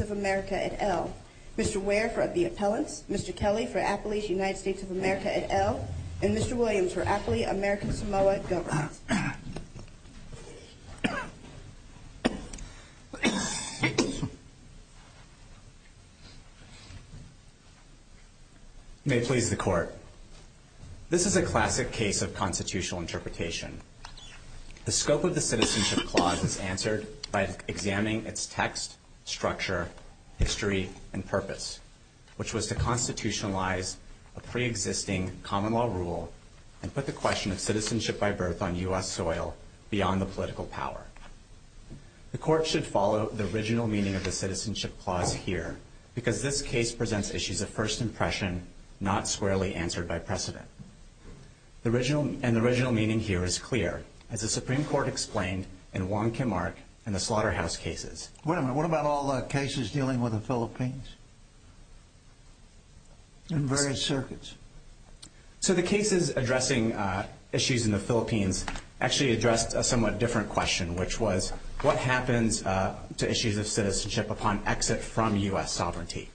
of America et al. Mr. Ware for the appellants, Mr. Kelly for Appley's United States of America et al., and Mr. Williams for Appley American Samoa government. May it please the court, this is a classic case of constitutional interpretation. The scope of the Citizenship Clause is answered by examining its text, structure, history, and purpose, which was to constitutionalize a pre-existing common law rule and put the question of citizenship by birth on U.S. soil beyond the political power. The court should follow the original meaning of the Citizenship Clause here, because this case presents issues of first impression, not squarely answered by precedent. The original meaning here is clear, as the Supreme Court explained in Wong Kim Ark and the Slaughterhouse cases. Wait a minute, what about all the cases dealing with the Philippines? In various circuits? So the cases addressing issues in the Philippines actually addressed a somewhat different question, which was, what happens to issues of citizenship upon exit from U.S. sovereignty?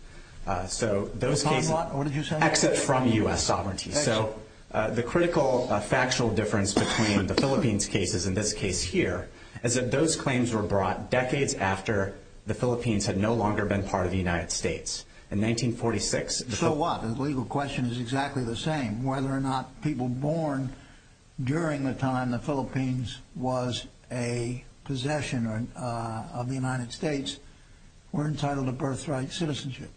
Upon what? What did you say? Exit from U.S. sovereignty. So the critical factual difference between the Philippines cases and this case here is that those claims were brought decades after the Philippines had no longer been part of the United States. In 1946- So what? The legal question is exactly the same. Whether or not people born during the time the Philippines was a possession of the United States were entitled to birthright citizenship.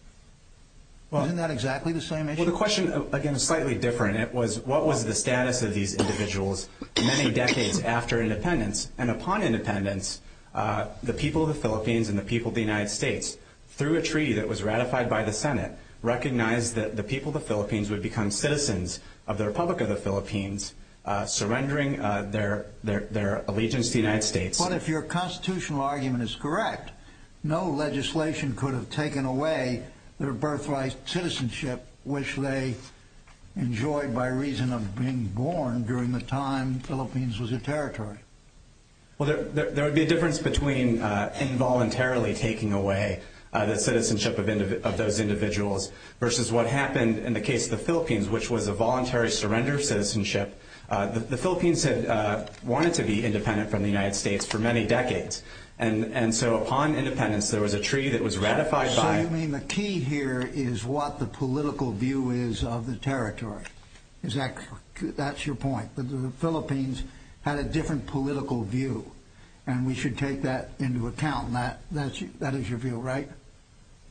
Isn't that exactly the same issue? Well, the question, again, is slightly different. It was, what was the status of these individuals many decades after independence? And upon independence, the people of the Philippines and the people of the United States, through a treaty that was ratified by the Senate, recognized that the people of the Philippines would become citizens of the Republic of the Philippines, surrendering their allegiance to the United States. But if your constitutional argument is correct, no legislation could have taken away their birthright citizenship, which they enjoyed by reason of being born during the time the Philippines was a territory. Well, there would be a difference between involuntarily taking away the citizenship of those individuals, versus what happened in the case of the Philippines, which was a voluntary surrender of citizenship. The Philippines had wanted to be independent from the United States for many decades. And so upon independence, there was a treaty that was ratified by- So you mean the key here is what the political view is of the territory? That's your point, that the Philippines had a different political view, and we should take that into account. That is your view, right?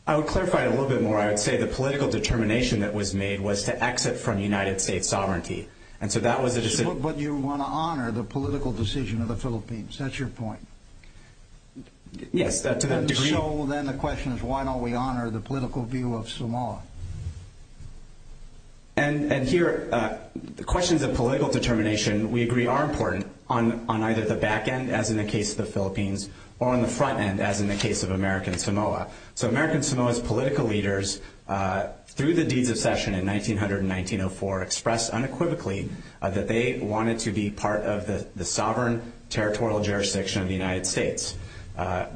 I would clarify it a little bit more. I would say the political determination that was made was to exit from United States sovereignty. But you want to honor the political decision of the Philippines. That's your point. Yes, to that degree. So then the question is, why don't we honor the political view of Samoa? And here, questions of political determination, we agree, are important on either the back end, as in the case of the Philippines, or on the front end, as in the case of American Samoa. So American Samoa's political leaders, through the Deeds of Session in 1900 and 1904, expressed unequivocally that they wanted to be part of the sovereign territorial jurisdiction of the United States.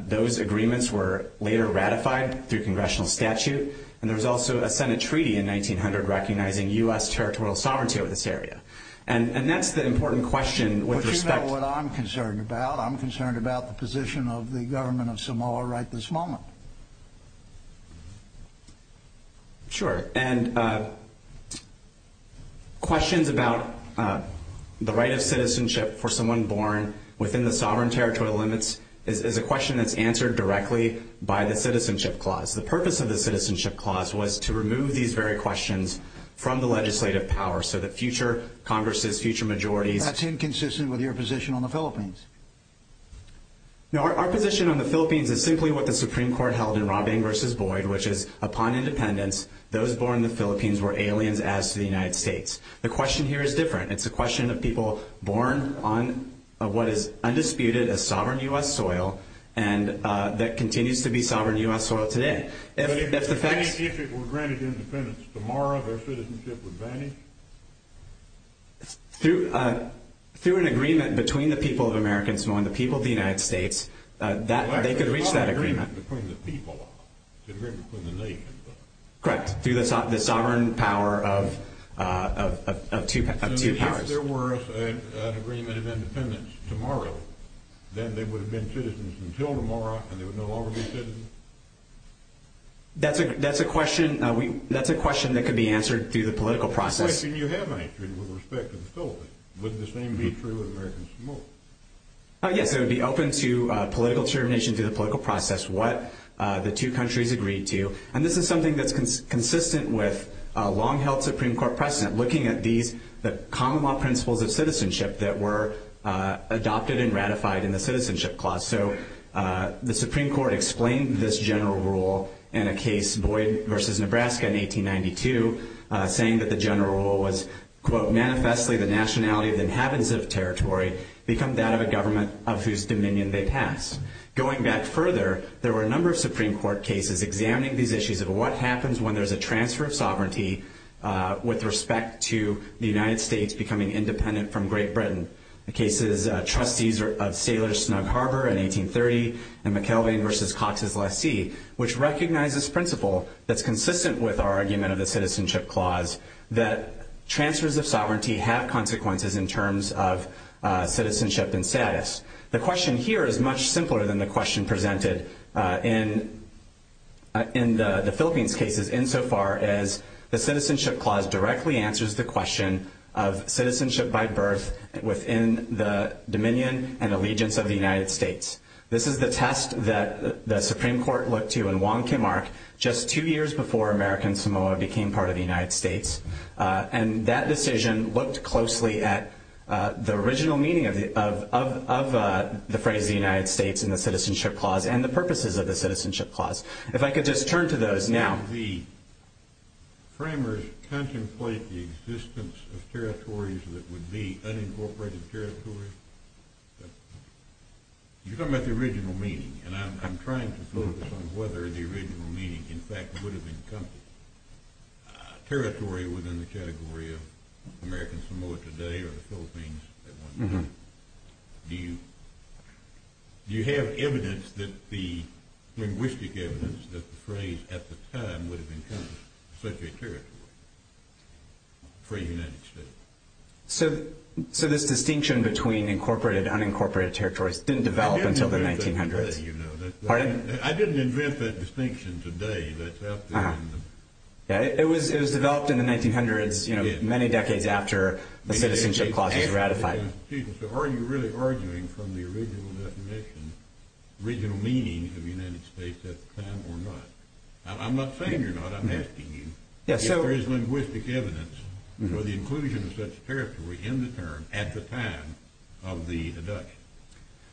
Those agreements were later ratified through congressional statute. And there was also a Senate treaty in 1900 recognizing U.S. territorial sovereignty over this area. And that's the important question with respect- But you know what I'm concerned about. I'm concerned about the position of the government of Samoa right this moment. Sure. And questions about the right of citizenship for someone born within the sovereign territorial limits is a question that's answered directly by the Citizenship Clause. The purpose of the Citizenship Clause was to remove these very questions from the legislative power so that future Congresses, future majorities- Now, our position on the Philippines is simply what the Supreme Court held in Robing v. Boyd, which is, upon independence, those born in the Philippines were aliens as to the United States. The question here is different. It's a question of people born on what is undisputed as sovereign U.S. soil, and that continues to be sovereign U.S. soil today. But if it were granted independence tomorrow, their citizenship would vanish? Through an agreement between the people of American Samoa and the people of the United States, they could reach that agreement. It's not an agreement between the people. It's an agreement between the nations. Correct. Through the sovereign power of two powers. So if there were an agreement of independence tomorrow, then they would have been citizens until tomorrow, and they would no longer be citizens? That's a question that could be answered through the political process. What question you have answered with respect to the Philippines? Would the same be true of American Samoa? Yes, it would be open to political determination through the political process what the two countries agreed to. And this is something that's consistent with a long-held Supreme Court precedent, looking at the common law principles of citizenship that were adopted and ratified in the Citizenship Clause. So the Supreme Court explained this general rule in a case, Boyd v. Nebraska in 1892, saying that the general rule was, quote, manifestly the nationality of the inhabitants of a territory become that of a government of whose dominion they pass. Going back further, there were a number of Supreme Court cases examining these issues of what happens when there's a transfer of sovereignty with respect to the United States becoming independent from Great Britain. The case is Trustees of Sailor's Snug Harbor in 1830 and McKelvey v. Cox's Lassie, which recognizes principle that's consistent with our argument of the Citizenship Clause that transfers of sovereignty have consequences in terms of citizenship and status. The question here is much simpler than the question presented in the Philippines cases, insofar as the Citizenship Clause directly answers the question of citizenship by birth within the dominion and allegiance of the United States. This is the test that the Supreme Court looked to in Wong Kim Ark just two years before American Samoa became part of the United States. And that decision looked closely at the original meaning of the phrase the United States in the Citizenship Clause and the purposes of the Citizenship Clause. If I could just turn to those now. The framers contemplate the existence of territories that would be unincorporated territories. You're talking about the original meaning, and I'm trying to focus on whether the original meaning in fact would have encompassed a territory within the category of American Samoa today or the Philippines at one time. Do you have linguistic evidence that the phrase at the time would have encompassed such a territory for a United States? So this distinction between incorporated and unincorporated territories didn't develop until the 1900s. I didn't invent that distinction today. It was developed in the 1900s, many decades after the Citizenship Clause was ratified. Are you really arguing from the original definition, original meaning of the United States at the time or not? I'm not saying you're not. I'm asking you if there is linguistic evidence for the inclusion of such a territory in the term at the time of the deduction.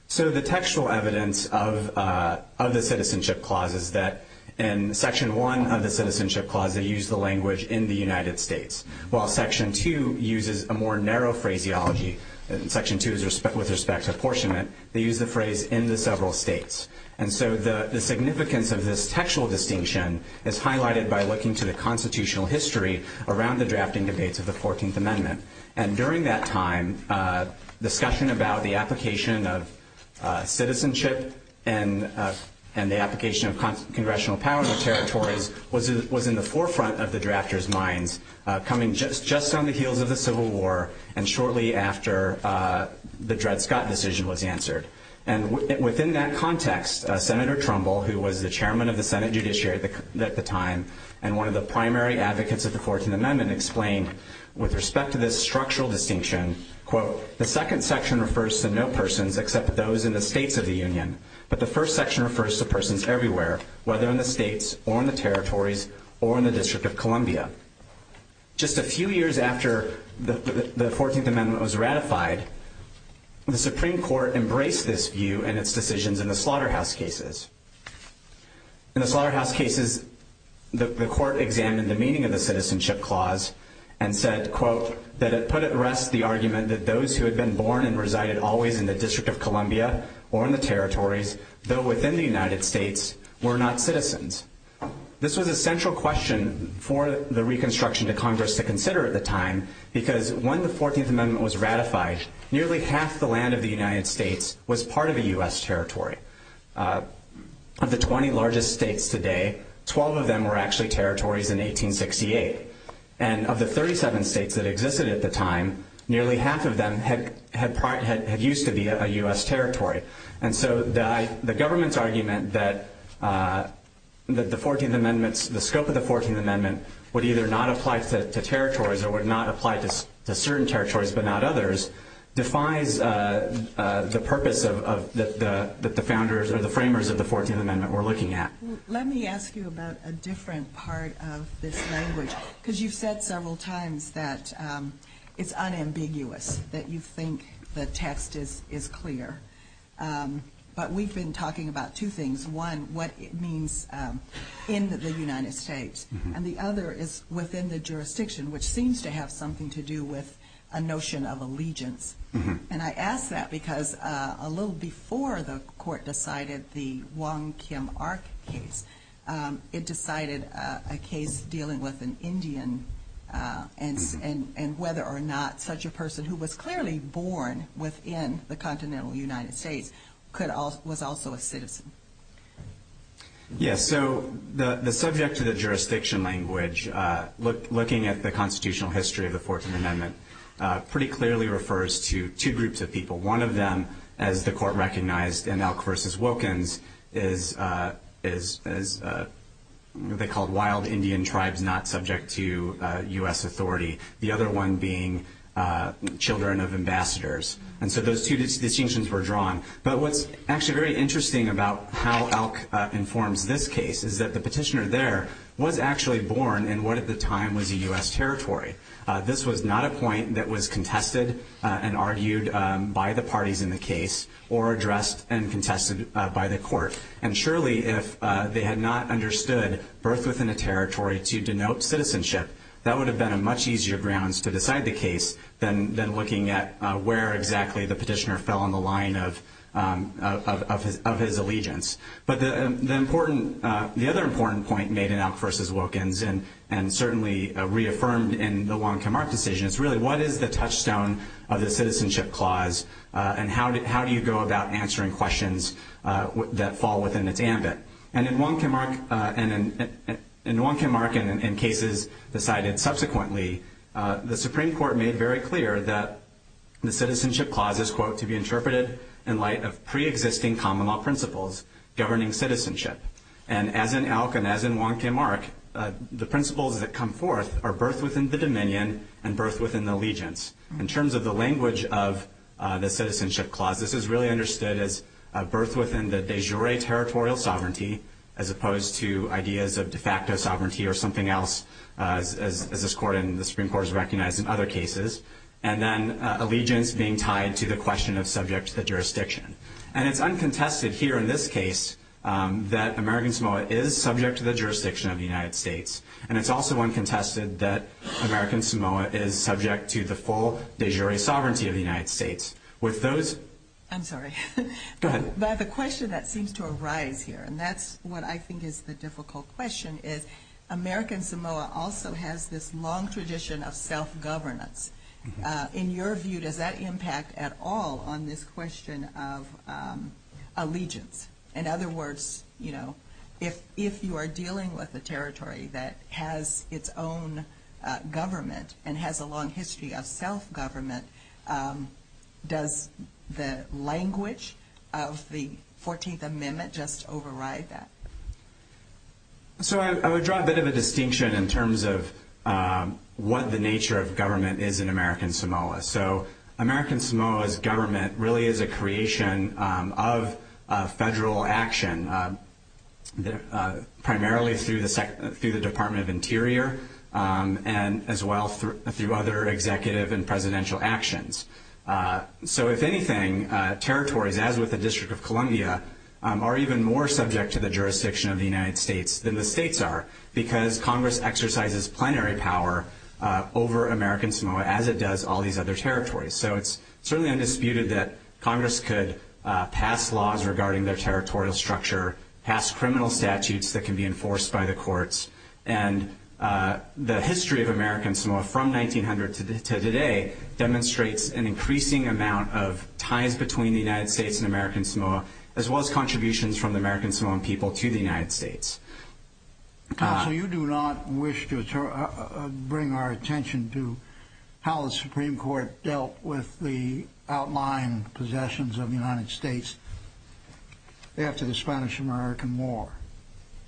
So the textual evidence of the Citizenship Clause is that in Section 1 of the Citizenship Clause they use the language in the United States, while Section 2 uses a more narrow phraseology. Section 2 is with respect to apportionment. They use the phrase in the several states. And so the significance of this textual distinction is highlighted by looking to the constitutional history around the drafting debates of the 14th Amendment. And during that time, discussion about the application of citizenship and the application of congressional powers of territories was in the forefront of the drafters' minds coming just on the heels of the Civil War and shortly after the Dred Scott decision was answered. And within that context, Senator Trumbull, who was the chairman of the Senate Judiciary at the time and one of the primary advocates of the 14th Amendment, explained with respect to this structural distinction, quote, the second section refers to no persons except those in the states of the Union, but the first section refers to persons everywhere, whether in the states or in the territories or in the District of Columbia. Just a few years after the 14th Amendment was ratified, the Supreme Court embraced this view and its decisions in the slaughterhouse cases. In the slaughterhouse cases, the court examined the meaning of the citizenship clause and said, quote, that it put at rest the argument that those who had been born and resided always in the District of Columbia or in the territories, though within the United States, were not citizens. This was a central question for the reconstruction to Congress to consider at the time because when the 14th Amendment was ratified, nearly half the land of the United States was part of the U.S. territory. Of the 20 largest states today, 12 of them were actually territories in 1868, and of the 37 states that existed at the time, nearly half of them had used to be a U.S. territory. And so the government's argument that the scope of the 14th Amendment would either not apply to territories or would not apply to certain territories but not others defies the purpose that the founders or the framers of the 14th Amendment were looking at. Let me ask you about a different part of this language because you've said several times that it's unambiguous, that you think the text is clear. But we've been talking about two things. One, what it means in the United States, and the other is within the jurisdiction, which seems to have something to do with a notion of allegiance. And I ask that because a little before the court decided the Wong Kim Ark case, it decided a case dealing with an Indian and whether or not such a person who was clearly born within the continental United States was also a citizen. Yes, so the subject of the jurisdiction language, looking at the constitutional history of the 14th Amendment, pretty clearly refers to two groups of people. One of them, as the court recognized in Elk v. Wilkins, is what they called wild Indian tribes not subject to U.S. authority, the other one being children of ambassadors. And so those two distinctions were drawn. But what's actually very interesting about how Elk informs this case is that the petitioner there was actually born in what at the time was a U.S. territory. This was not a point that was contested and argued by the parties in the case or addressed and contested by the court. And surely if they had not understood birth within a territory to denote citizenship, that would have been a much easier grounds to decide the case than looking at where exactly the petitioner fell on the line of his allegiance. But the other important point made in Elk v. Wilkins, and certainly reaffirmed in the Wong-Kim Ark decision, is really what is the touchstone of the citizenship clause and how do you go about answering questions that fall within its ambit? And in Wong-Kim Ark and in cases decided subsequently, the Supreme Court made very clear that the citizenship clause is, quote, to be interpreted in light of preexisting common law principles governing citizenship. And as in Elk and as in Wong-Kim Ark, the principles that come forth are birth within the dominion and birth within the allegiance. In terms of the language of the citizenship clause, this is really understood as birth within the de jure territorial sovereignty as opposed to ideas of de facto sovereignty or something else, as this court and the Supreme Court has recognized in other cases. And then allegiance being tied to the question of subject to the jurisdiction. And it's uncontested here in this case that American Samoa is subject to the jurisdiction of the United States. And it's also uncontested that American Samoa is subject to the full de jure sovereignty of the United States. With those... I'm sorry. Go ahead. The question that seems to arise here, and that's what I think is the difficult question, is American Samoa also has this long tradition of self-governance. In your view, does that impact at all on this question of allegiance? In other words, you know, if you are dealing with a territory that has its own government and has a long history of self-government, does the language of the 14th Amendment just override that? So I would draw a bit of a distinction in terms of what the nature of government is in American Samoa. So American Samoa's government really is a creation of federal action, primarily through the Department of Interior and as well through other executive and presidential actions. So if anything, territories, as with the District of Columbia, are even more subject to the jurisdiction of the United States than the states are because Congress exercises plenary power over American Samoa as it does all these other territories. So it's certainly undisputed that Congress could pass laws regarding their territorial structure, pass criminal statutes that can be enforced by the courts, and the history of American Samoa from 1900 to today demonstrates an increasing amount of ties between the United States and American Samoa as well as contributions from the American Samoan people to the United States. Counsel, you do not wish to bring our attention to how the Supreme Court dealt with the outlying possessions of the United States after the Spanish-American War,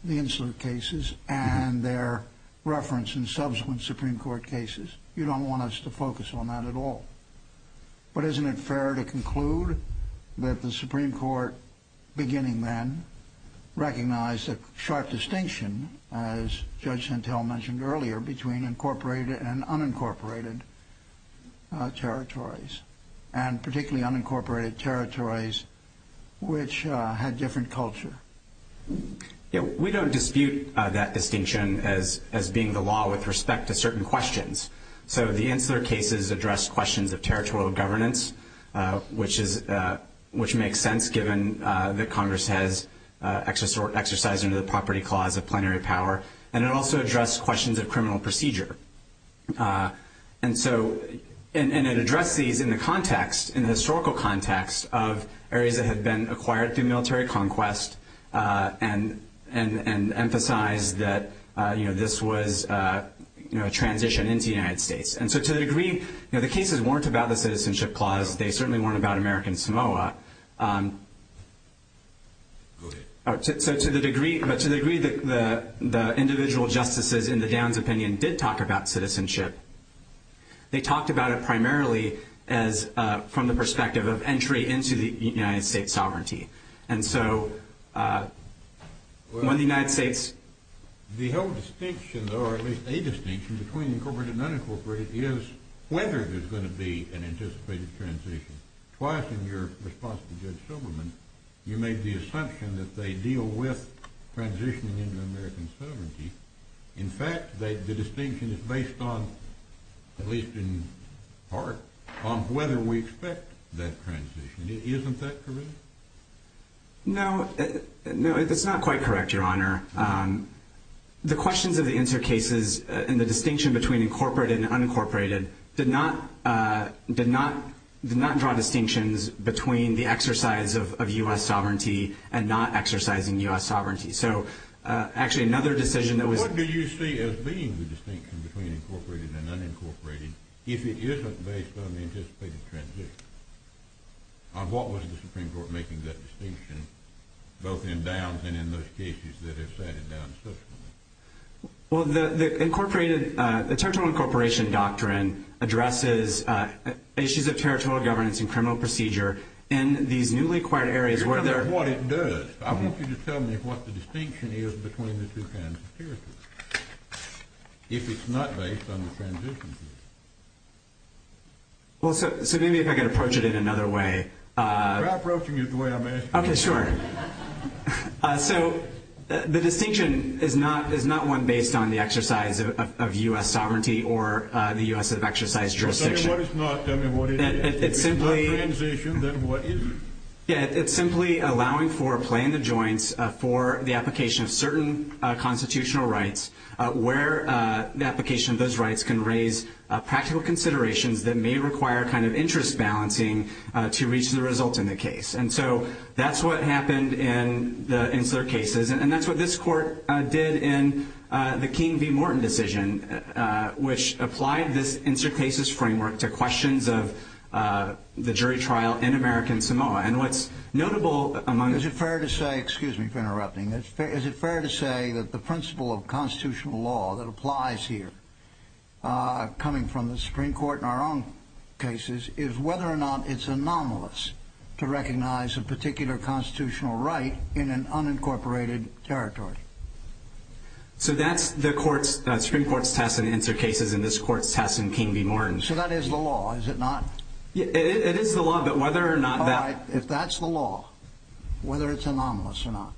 the insular cases and their reference in subsequent Supreme Court cases. You don't want us to focus on that at all. But isn't it fair to conclude that the Supreme Court, beginning then, recognized a sharp distinction, as Judge Santel mentioned earlier, between incorporated and unincorporated territories, and particularly unincorporated territories which had different culture? We don't dispute that distinction as being the law with respect to certain questions. So the insular cases address questions of territorial governance, which makes sense given that Congress has exercised under the property clause of plenary power, and it also addressed questions of criminal procedure. And so it addressed these in the context, in the historical context, of areas that had been acquired through military conquest and emphasized that this was a transition into the United States. And so to the degree that the cases weren't about the citizenship clause, they certainly weren't about American Samoa. But to the degree that the individual justices in the Downs opinion did talk about citizenship, they talked about it primarily from the perspective of entry into the United States sovereignty. The whole distinction, or at least a distinction, between incorporated and unincorporated is whether there's going to be an anticipated transition. Twice in your response to Judge Silberman, you made the assumption that they deal with transitioning into American sovereignty. In fact, the distinction is based on, at least in part, on whether we expect that transition. Isn't that correct? No, that's not quite correct, Your Honor. The questions of the insert cases and the distinction between incorporated and unincorporated did not draw distinctions between the exercise of U.S. sovereignty and not exercising U.S. sovereignty. So actually another decision that was— between incorporated and unincorporated, if it isn't based on the anticipated transition. What was the Supreme Court making that distinction, both in Downs and in those cases that have sat it down subsequently? Well, the territorial incorporation doctrine addresses issues of territorial governance and criminal procedure in these newly acquired areas where there— That's what it does. I want you to tell me what the distinction is between the two kinds of territories. If it's not based on the transition. Well, so maybe if I could approach it in another way. You're approaching it the way I'm asking you. Okay, sure. So the distinction is not one based on the exercise of U.S. sovereignty or the U.S. exercise jurisdiction. Tell me what it's not. Tell me what it is. It's simply— If it's not transition, then what is it? Yeah, it's simply allowing for a play in the joints for the application of certain constitutional rights where the application of those rights can raise practical considerations that may require kind of interest balancing to reach the result in the case. And so that's what happened in the Insular Cases, and that's what this court did in the King v. Morton decision, which applied this Insular Cases framework to questions of the jury trial in American Samoa. And what's notable among— Is it fair to say—excuse me for interrupting. Is it fair to say that the principle of constitutional law that applies here, coming from the Supreme Court in our own cases, is whether or not it's anomalous to recognize a particular constitutional right in an unincorporated territory? So that's the Supreme Court's test in Insular Cases, and this court's test in King v. Morton. So that is the law, is it not? It is the law, but whether or not that— All right, if that's the law, whether it's anomalous or not,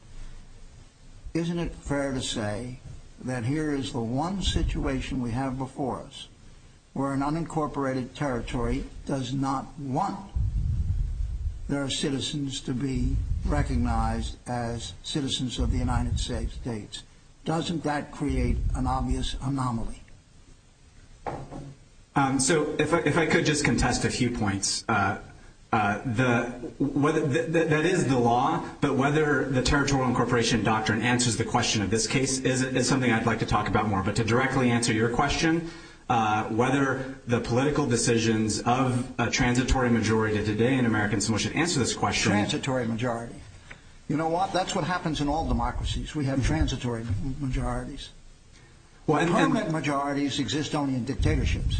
isn't it fair to say that here is the one situation we have before us where an unincorporated territory does not want their citizens to be recognized as citizens of the United States? Doesn't that create an obvious anomaly? So if I could just contest a few points. That is the law, but whether the territorial incorporation doctrine answers the question of this case is something I'd like to talk about more. But to directly answer your question, whether the political decisions of a transitory majority today in America, so we should answer this question— Transitory majority. You know what? That's what happens in all democracies. We have transitory majorities. But permanent majorities exist only in dictatorships.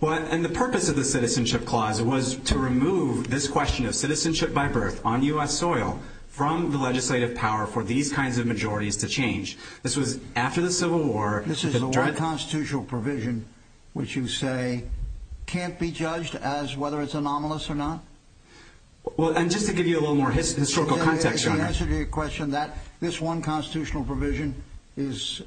Well, and the purpose of the Citizenship Clause was to remove this question of citizenship by birth on U.S. soil from the legislative power for these kinds of majorities to change. This was after the Civil War. This is the one constitutional provision which you say can't be judged as whether it's anomalous or not? Well, and just to give you a little more historical context— To answer your question, this one constitutional provision is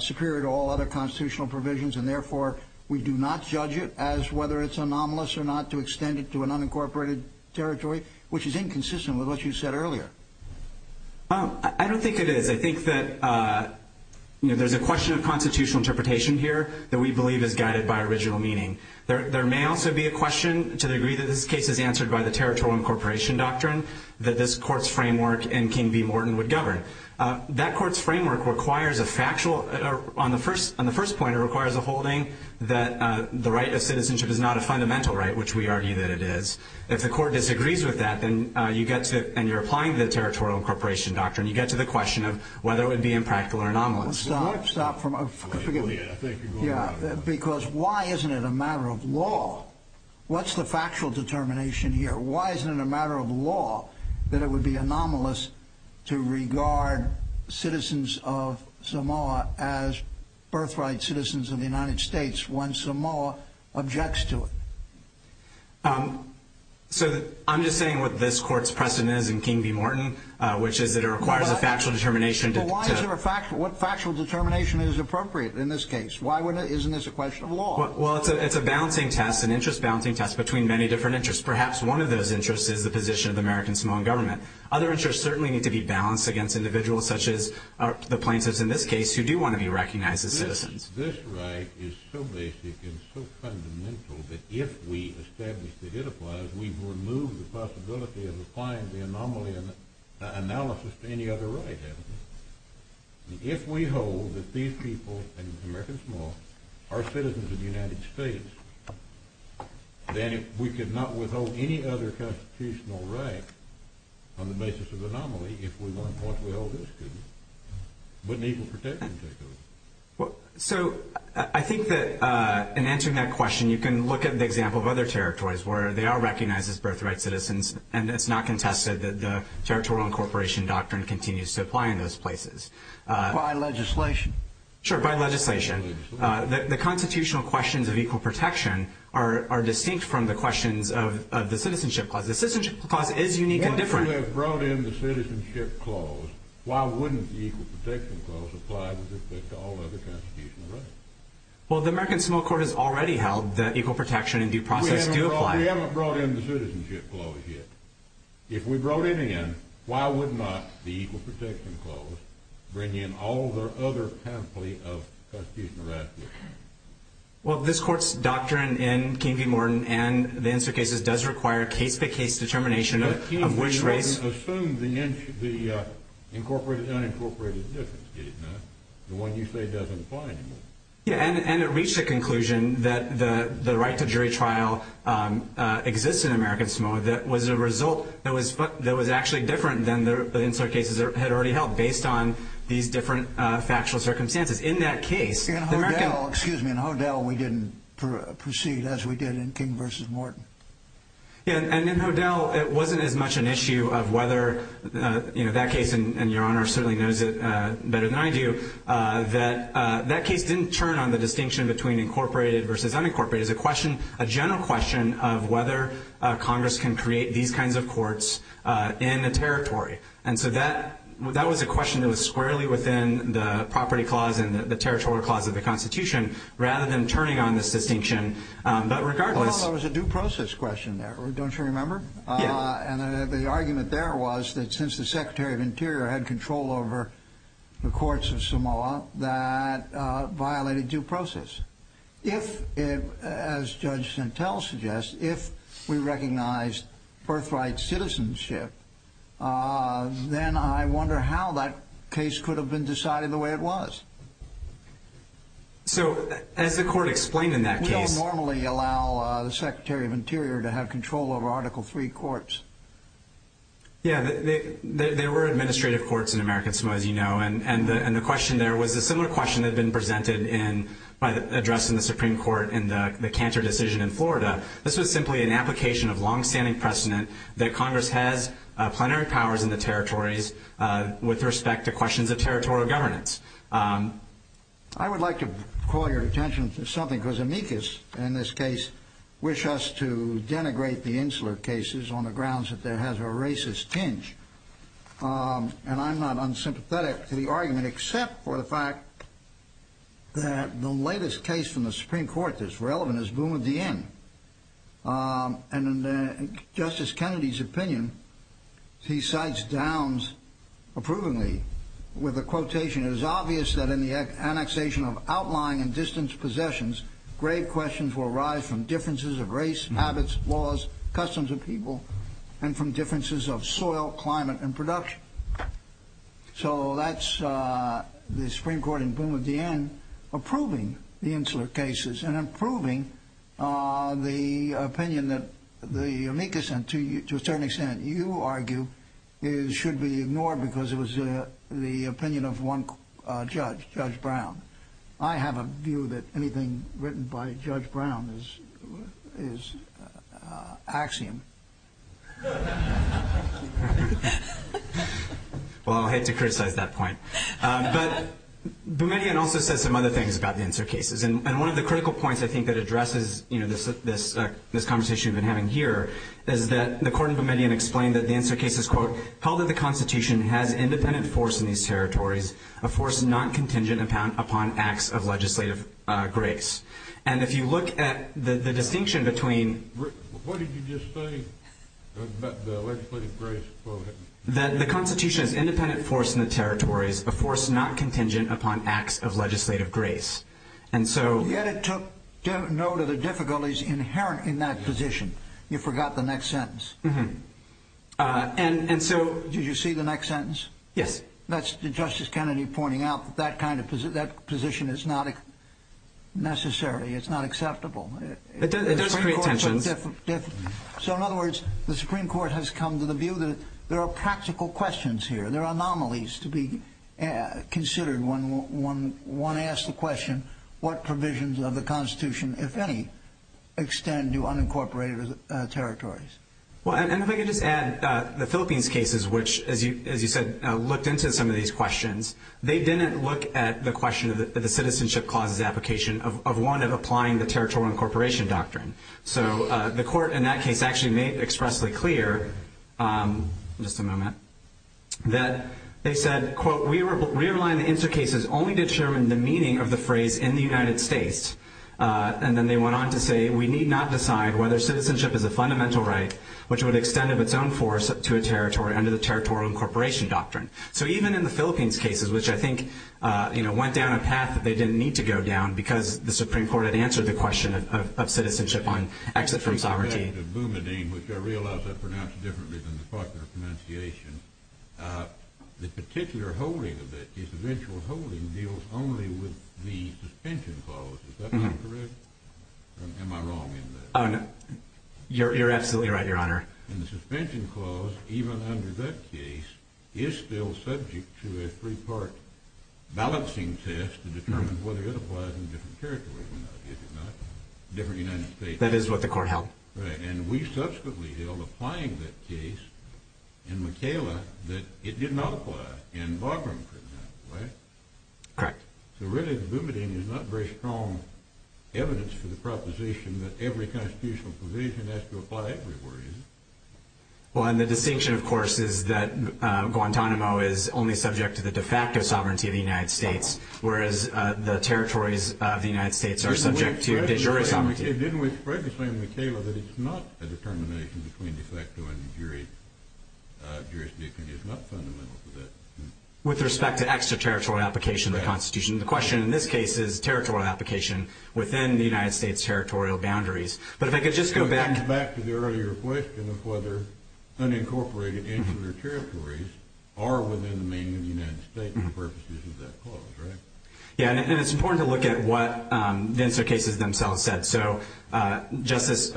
superior to all other constitutional provisions, and therefore we do not judge it as whether it's anomalous or not to extend it to an unincorporated territory, which is inconsistent with what you said earlier. I don't think it is. I think that there's a question of constitutional interpretation here that we believe is guided by original meaning. There may also be a question to the degree that this case is answered by the territorial incorporation doctrine that this court's framework and King v. Morton would govern. That court's framework requires a factual— On the first point, it requires a holding that the right of citizenship is not a fundamental right, which we argue that it is. If the court disagrees with that and you're applying the territorial incorporation doctrine, you get to the question of whether it would be impractical or anomalous. Stop. Stop. Forgive me. Because why isn't it a matter of law? What's the factual determination here? Why isn't it a matter of law that it would be anomalous to regard citizens of Samoa as birthright citizens of the United States when Samoa objects to it? I'm just saying what this court's precedent is in King v. Morton, which is that it requires a factual determination to— But why is there a factual—what factual determination is appropriate in this case? Why wouldn't it—isn't this a question of law? Well, it's a balancing test, an interest balancing test between many different interests. Perhaps one of those interests is the position of the American Samoan government. Other interests certainly need to be balanced against individuals, such as the plaintiffs in this case, who do want to be recognized as citizens. This right is so basic and so fundamental that if we establish that it applies, we've removed the possibility of applying the anomaly analysis to any other right, haven't we? If we hold that these people in American Samoa are citizens of the United States, then we could not withhold any other constitutional right on the basis of anomaly if we want what we hold this to be, but an equal protection to it. So I think that in answering that question, you can look at the example of other territories where they are recognized as birthright citizens, and it's not contested that the territorial incorporation doctrine continues to apply in those places. By legislation. Sure, by legislation. The constitutional questions of equal protection are distinct from the questions of the citizenship clause. The citizenship clause is unique and different. If we have brought in the citizenship clause, why wouldn't the equal protection clause apply with respect to all other constitutional rights? Well, the American Samoan Court has already held that equal protection and due process do apply. We haven't brought in the citizenship clause yet. If we brought it in, why would not the equal protection clause bring in all the other kind of plea of constitutional rights? Well, this Court's doctrine in King v. Morton and the insert cases does require case-by-case determination of which race... But King v. Morton assumed the incorporated and unincorporated difference, did it not? The one you say doesn't apply anymore. Yeah, and it reached a conclusion that the right to jury trial exists in American Samoa that was a result that was actually different than the insert cases had already held based on these different factual circumstances. In that case, the American... In Hodel, excuse me, in Hodel we didn't proceed as we did in King v. Morton. Yeah, and in Hodel it wasn't as much an issue of whether that case, and Your Honor certainly knows it better than I do, that that case didn't turn on the distinction between incorporated versus unincorporated. It was a general question of whether Congress can create these kinds of courts in a territory. And so that was a question that was squarely within the property clause and the territorial clause of the Constitution rather than turning on this distinction. But regardless... Well, there was a due process question there, don't you remember? Yeah. And the argument there was that since the Secretary of Interior had control over the courts of Samoa, that violated due process. If, as Judge Santel suggests, if we recognize birthright citizenship, then I wonder how that case could have been decided the way it was. So as the court explained in that case... We don't normally allow the Secretary of Interior to have control over Article III courts. Yeah, there were administrative courts in American Samoa, as you know, and the question there was a similar question that had been presented in, addressed in the Supreme Court in the Cantor decision in Florida. This was simply an application of longstanding precedent that Congress has plenary powers in the territories with respect to questions of territorial governance. I would like to call your attention to something, because amicus, in this case, wish us to denigrate the Insular cases on the grounds that there has been a racist tinge. And I'm not unsympathetic to the argument, except for the fact that the latest case from the Supreme Court that's relevant is Boumediene. And in Justice Kennedy's opinion, he cites Downs approvingly with a quotation, it is obvious that in the annexation of outlying and distant possessions, grave questions will arise from differences of race, habits, laws, customs of people, and from differences of soil, climate, and production. So that's the Supreme Court in Boumediene approving the Insular cases and approving the opinion that the amicus, and to a certain extent you argue, should be ignored because it was the opinion of one judge, Judge Brown. I have a view that anything written by Judge Brown is axiom. Well, I hate to criticize that point. But Boumediene also says some other things about the Insular cases. And one of the critical points I think that addresses this conversation we've been having here is that the court in Boumediene explained that the Insular cases, quote, held that the Constitution has independent force in these territories, a force not contingent upon acts of legislative grace. And if you look at the distinction between… What did you just say about the legislative grace? That the Constitution has independent force in the territories, a force not contingent upon acts of legislative grace. Yet it took note of the difficulties inherent in that position. You forgot the next sentence. Did you see the next sentence? Yes. That's Justice Kennedy pointing out that that position is not necessary, it's not acceptable. It does create tensions. So in other words, the Supreme Court has come to the view that there are practical questions here, there are anomalies to be considered when one asks the question, what provisions of the Constitution, if any, extend to unincorporated territories? Well, and if I could just add, the Philippines cases, which, as you said, looked into some of these questions, they didn't look at the question of the citizenship clauses application of one of applying the territorial incorporation doctrine. So the court in that case actually made expressly clear, just a moment, that they said, quote, we rely on the intercases only to determine the meaning of the phrase in the United States. And then they went on to say we need not decide whether citizenship is a fundamental right, which would extend of its own force to a territory under the territorial incorporation doctrine. So even in the Philippines cases, which I think, you know, went down a path that they didn't need to go down because the Supreme Court had answered the question of citizenship on exit from sovereignty. In respect to Bumadine, which I realize I pronounced differently than the popular pronunciation, the particular holding of it, its eventual holding, deals only with the suspension clause. Is that not correct? Or am I wrong in that? Oh, no. You're absolutely right, Your Honor. And the suspension clause, even under that case, is still subject to a three-part balancing test to determine whether it applies in different territories or not, if it does not, different United States. That is what the court held. Right. And we subsequently held, applying that case in Makayla, that it did not apply in Bagram, for example, right? Correct. So really, the Bumadine is not very strong evidence for the proposition that every constitutional provision has to apply everywhere, is it? Well, and the distinction, of course, is that Guantanamo is only subject to the de facto sovereignty of the United States, whereas the territories of the United States are subject to de jure sovereignty. Didn't we spread the claim in Makayla that it's not a determination between de facto and jurisdiction? It's not fundamental to that. With respect to extraterritorial application of the Constitution, the question in this case is territorial application within the United States' territorial boundaries. But if I could just go back... unincorporated insular territories are within the meaning of the United States for purposes of that clause, right? Yeah, and it's important to look at what the insert cases themselves said. So Justice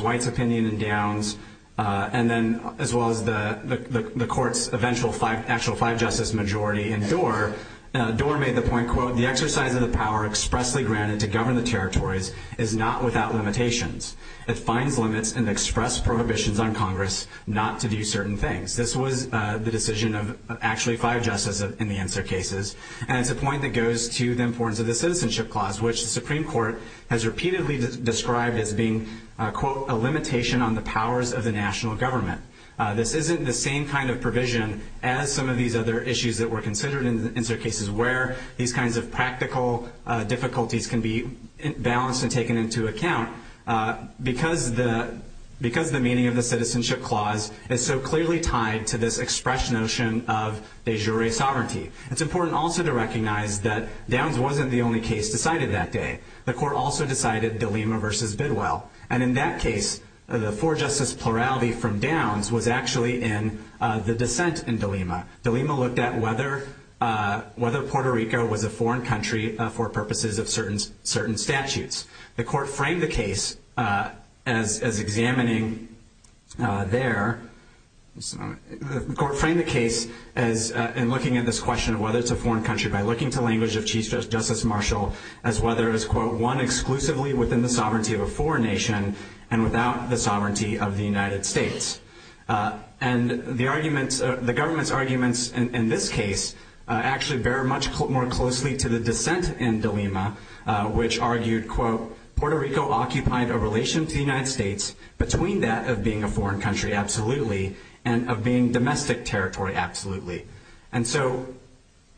White's opinion in Downs, and then as well as the court's actual five-justice majority in Dorr, Dorr made the point, quote, the exercise of the power expressly granted to govern the territories is not without limitations. It finds limits and express prohibitions on Congress not to do certain things. This was the decision of actually five justices in the insert cases, and it's a point that goes to the importance of the citizenship clause, which the Supreme Court has repeatedly described as being, quote, a limitation on the powers of the national government. This isn't the same kind of provision as some of these other issues that were considered in the insert cases where these kinds of practical difficulties can be balanced and taken into account because the meaning of the citizenship clause is so clearly tied to this express notion of de jure sovereignty. It's important also to recognize that Downs wasn't the only case decided that day. The court also decided Dilema v. Bidwell, and in that case the four-justice plurality from Downs was actually in the dissent in Dilema. Dilema looked at whether Puerto Rico was a foreign country for purposes of certain statutes. The court framed the case as examining there. The court framed the case in looking at this question of whether it's a foreign country by looking to language of Chief Justice Marshall as whether it was, quote, one exclusively within the sovereignty of a foreign nation and without the sovereignty of the United States. And the government's arguments in this case actually bear much more closely to the dissent in Dilema, which argued, quote, Puerto Rico occupied a relation to the United States between that of being a foreign country, absolutely, and of being domestic territory, absolutely. And so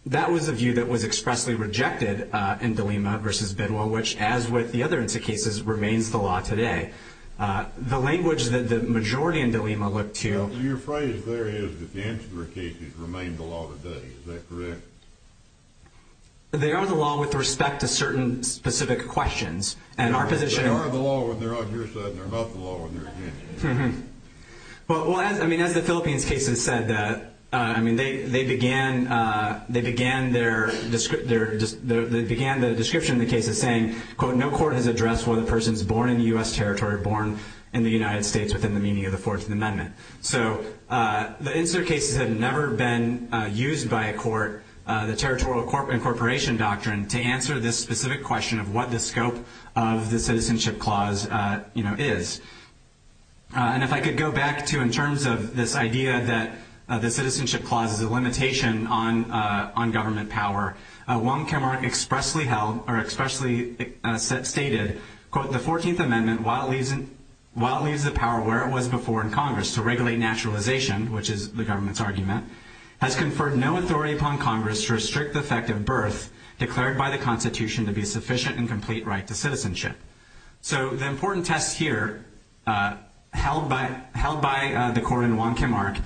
that was a view that was expressly rejected in Dilema v. Bidwell, which as with the other insert cases remains the law today. The language that the majority in Dilema look to- Your phrase there is that the insert cases remain the law today. Is that correct? They are the law with respect to certain specific questions. They are the law when they're on your side and they're not the law when they're against you. Well, as the Philippines case has said, they began their description of the case as saying, quote, no court has addressed whether a person is born in U.S. territory or born in the United States within the meaning of the Fourth Amendment. So the insert cases have never been used by a court, the territorial incorporation doctrine, to answer this specific question of what the scope of the Citizenship Clause is. And if I could go back to in terms of this idea that the Citizenship Clause is a limitation on government power, Wong Kim Ark expressly held or expressly stated, quote, the 14th Amendment, while it leaves the power where it was before in Congress to regulate naturalization, which is the government's argument, has conferred no authority upon Congress to restrict the effect of birth declared by the Constitution to be a sufficient and complete right to citizenship. So the important test here held by the court in Wong Kim Ark,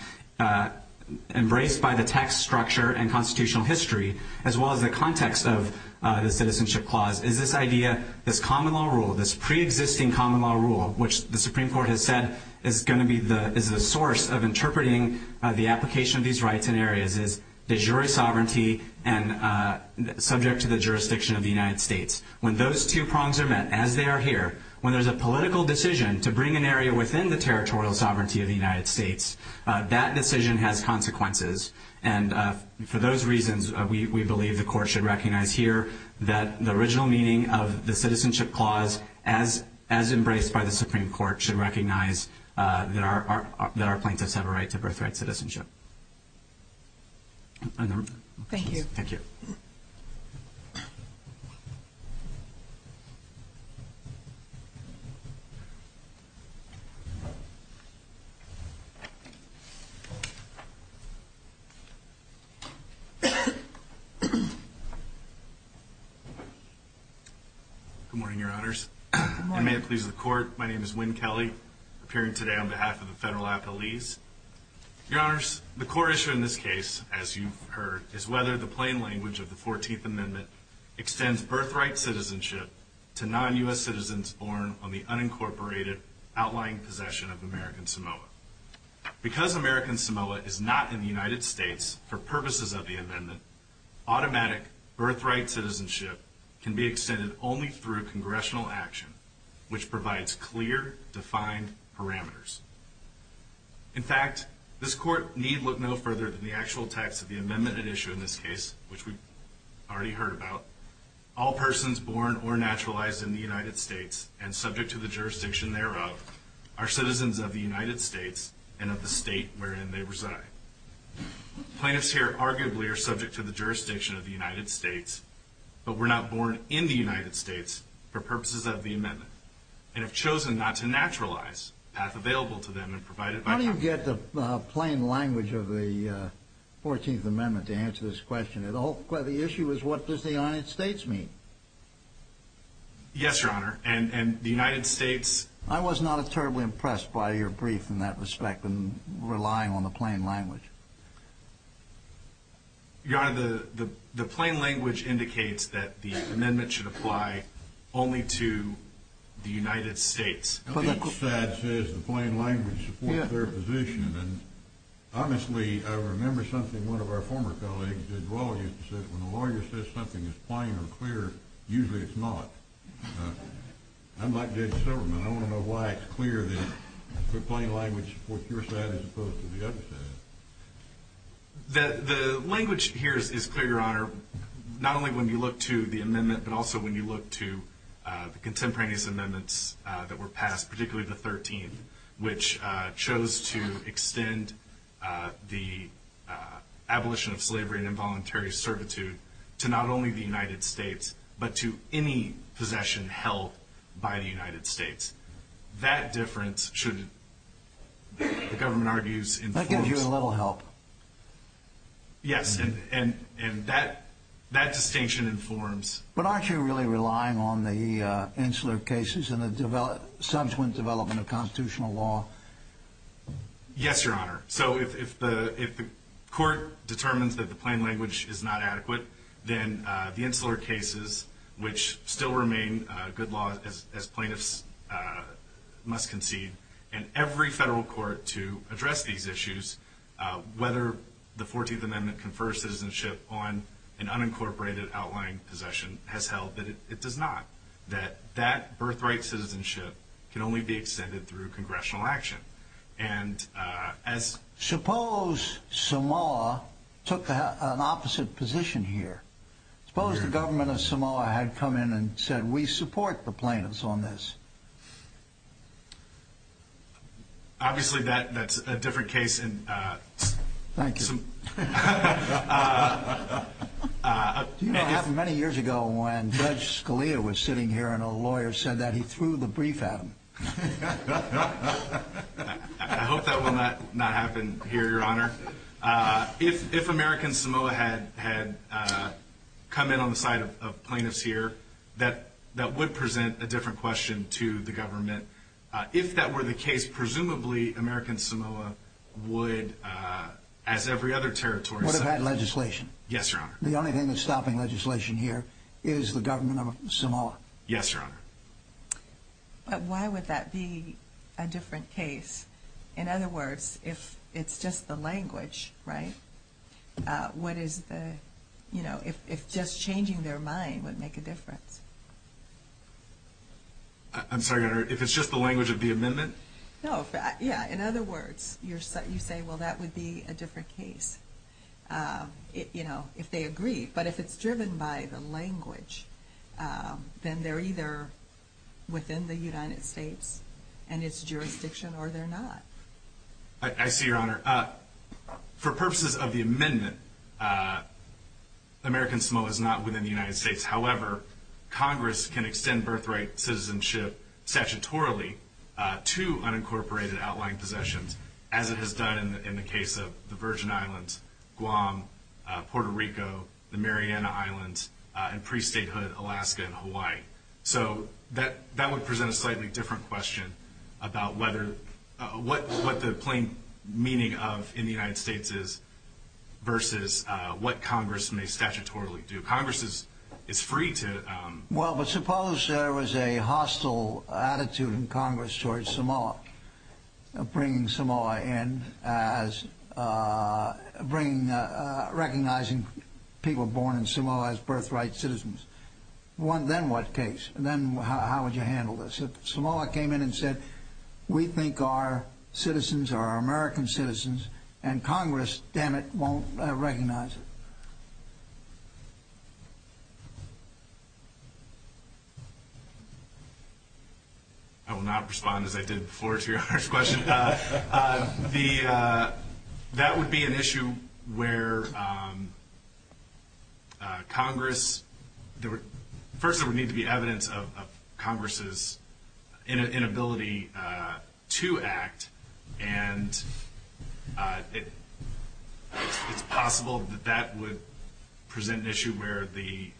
embraced by the text structure and constitutional history, as well as the context of the Citizenship Clause, is this idea, this common law rule, this pre-existing common law rule, which the Supreme Court has said is going to be the source of interpreting the application of these rights in areas as de jure sovereignty and subject to the jurisdiction of the United States. When those two prongs are met, as they are here, when there's a political decision to bring an area within the territorial sovereignty of the United States, that decision has consequences. And for those reasons, we believe the court should recognize here that the original meaning of the Citizenship Clause, as embraced by the Supreme Court, should recognize that our plaintiffs have a right to birthright citizenship. Thank you. Thank you. Good morning, Your Honors. Good morning. And may it please the Court, my name is Winn Kelly, appearing today on behalf of the Federal Appellees. Your Honors, the core issue in this case, as you've heard, is whether the plain language of the 14th Amendment extends birthright citizenship to non-U.S. citizens born on the unincorporated, outlying possession of American Samoa. Because American Samoa is not in the United States for purposes of the amendment, automatic birthright citizenship can be extended only through congressional action, which provides clear, defined parameters. In fact, this Court need look no further than the actual text of the amendment at issue in this case, which we've already heard about. All persons born or naturalized in the United States and subject to the jurisdiction thereof are citizens of the United States and of the state wherein they reside. Plaintiffs here arguably are subject to the jurisdiction of the United States, but were not born in the United States for purposes of the amendment, and have chosen not to naturalize the path available to them and provided by Congress. How do you get the plain language of the 14th Amendment to answer this question? The issue is what does the United States mean? Yes, Your Honor, and the United States... I was not terribly impressed by your brief in that respect in relying on the plain language. Your Honor, the plain language indicates that the amendment should apply only to the United States. Each side says the plain language supports their position, and honestly I remember something one of our former colleagues did well. He said when a lawyer says something is plain or clear, usually it's not. Unlike Judge Silverman, I want to know why it's clear that the plain language supports your side as opposed to the other side. The language here is clear, Your Honor, not only when you look to the amendment, but also when you look to the contemporaneous amendments that were passed, particularly the 13th, which chose to extend the abolition of slavery and involuntary servitude to not only the United States, but to any possession held by the United States. That difference should, the government argues... That gives you a little help. Yes, and that distinction informs... But aren't you really relying on the insular cases and the subsequent development of constitutional law? Yes, Your Honor. So if the court determines that the plain language is not adequate, then the insular cases, which still remain good law as plaintiffs must concede, and every federal court to address these issues, whether the 14th Amendment confers citizenship on an unincorporated outlying possession, has held that it does not, that that birthright citizenship can only be extended through congressional action. And as... Suppose Samoa took an opposite position here. Suppose the government of Samoa had come in and said, we support the plaintiffs on this. Obviously that's a different case in... Thank you. Do you know what happened many years ago when Judge Scalia was sitting here and a lawyer said that he threw the brief at him? I hope that will not happen here, Your Honor. If American Samoa had come in on the side of plaintiffs here, that would present a different question to the government. If that were the case, presumably American Samoa would, as every other territory... Would have had legislation. Yes, Your Honor. The only thing that's stopping legislation here is the government of Samoa. Yes, Your Honor. But why would that be a different case? In other words, if it's just the language, right? What is the... If just changing their mind would make a difference? I'm sorry, Your Honor. If it's just the language of the amendment? No. Yeah. In other words, you say, well, that would be a different case. You know, if they agree. But if it's driven by the language, then they're either within the United States and its jurisdiction or they're not. I see, Your Honor. For purposes of the amendment, American Samoa is not within the United States. However, Congress can extend birthright citizenship statutorily to unincorporated outlying possessions, as it has done in the case of the Virgin Islands, Guam, Puerto Rico, the Mariana Islands, and pre-statehood Alaska and Hawaii. So that would present a slightly different question about what the plain meaning of in the United States is versus what Congress may statutorily do. Congress is free to... Well, but suppose there was a hostile attitude in Congress towards Samoa, bringing Samoa in as... recognizing people born in Samoa as birthright citizens. Then what case? Then how would you handle this? If Samoa came in and said, we think our citizens are American citizens, and Congress, damn it, won't recognize it. I will not respond, as I did before, to Your Honor's question. That would be an issue where Congress... First, there would need to be evidence of Congress's inability to act, and it's possible that that would prevent Congress from presenting an issue where the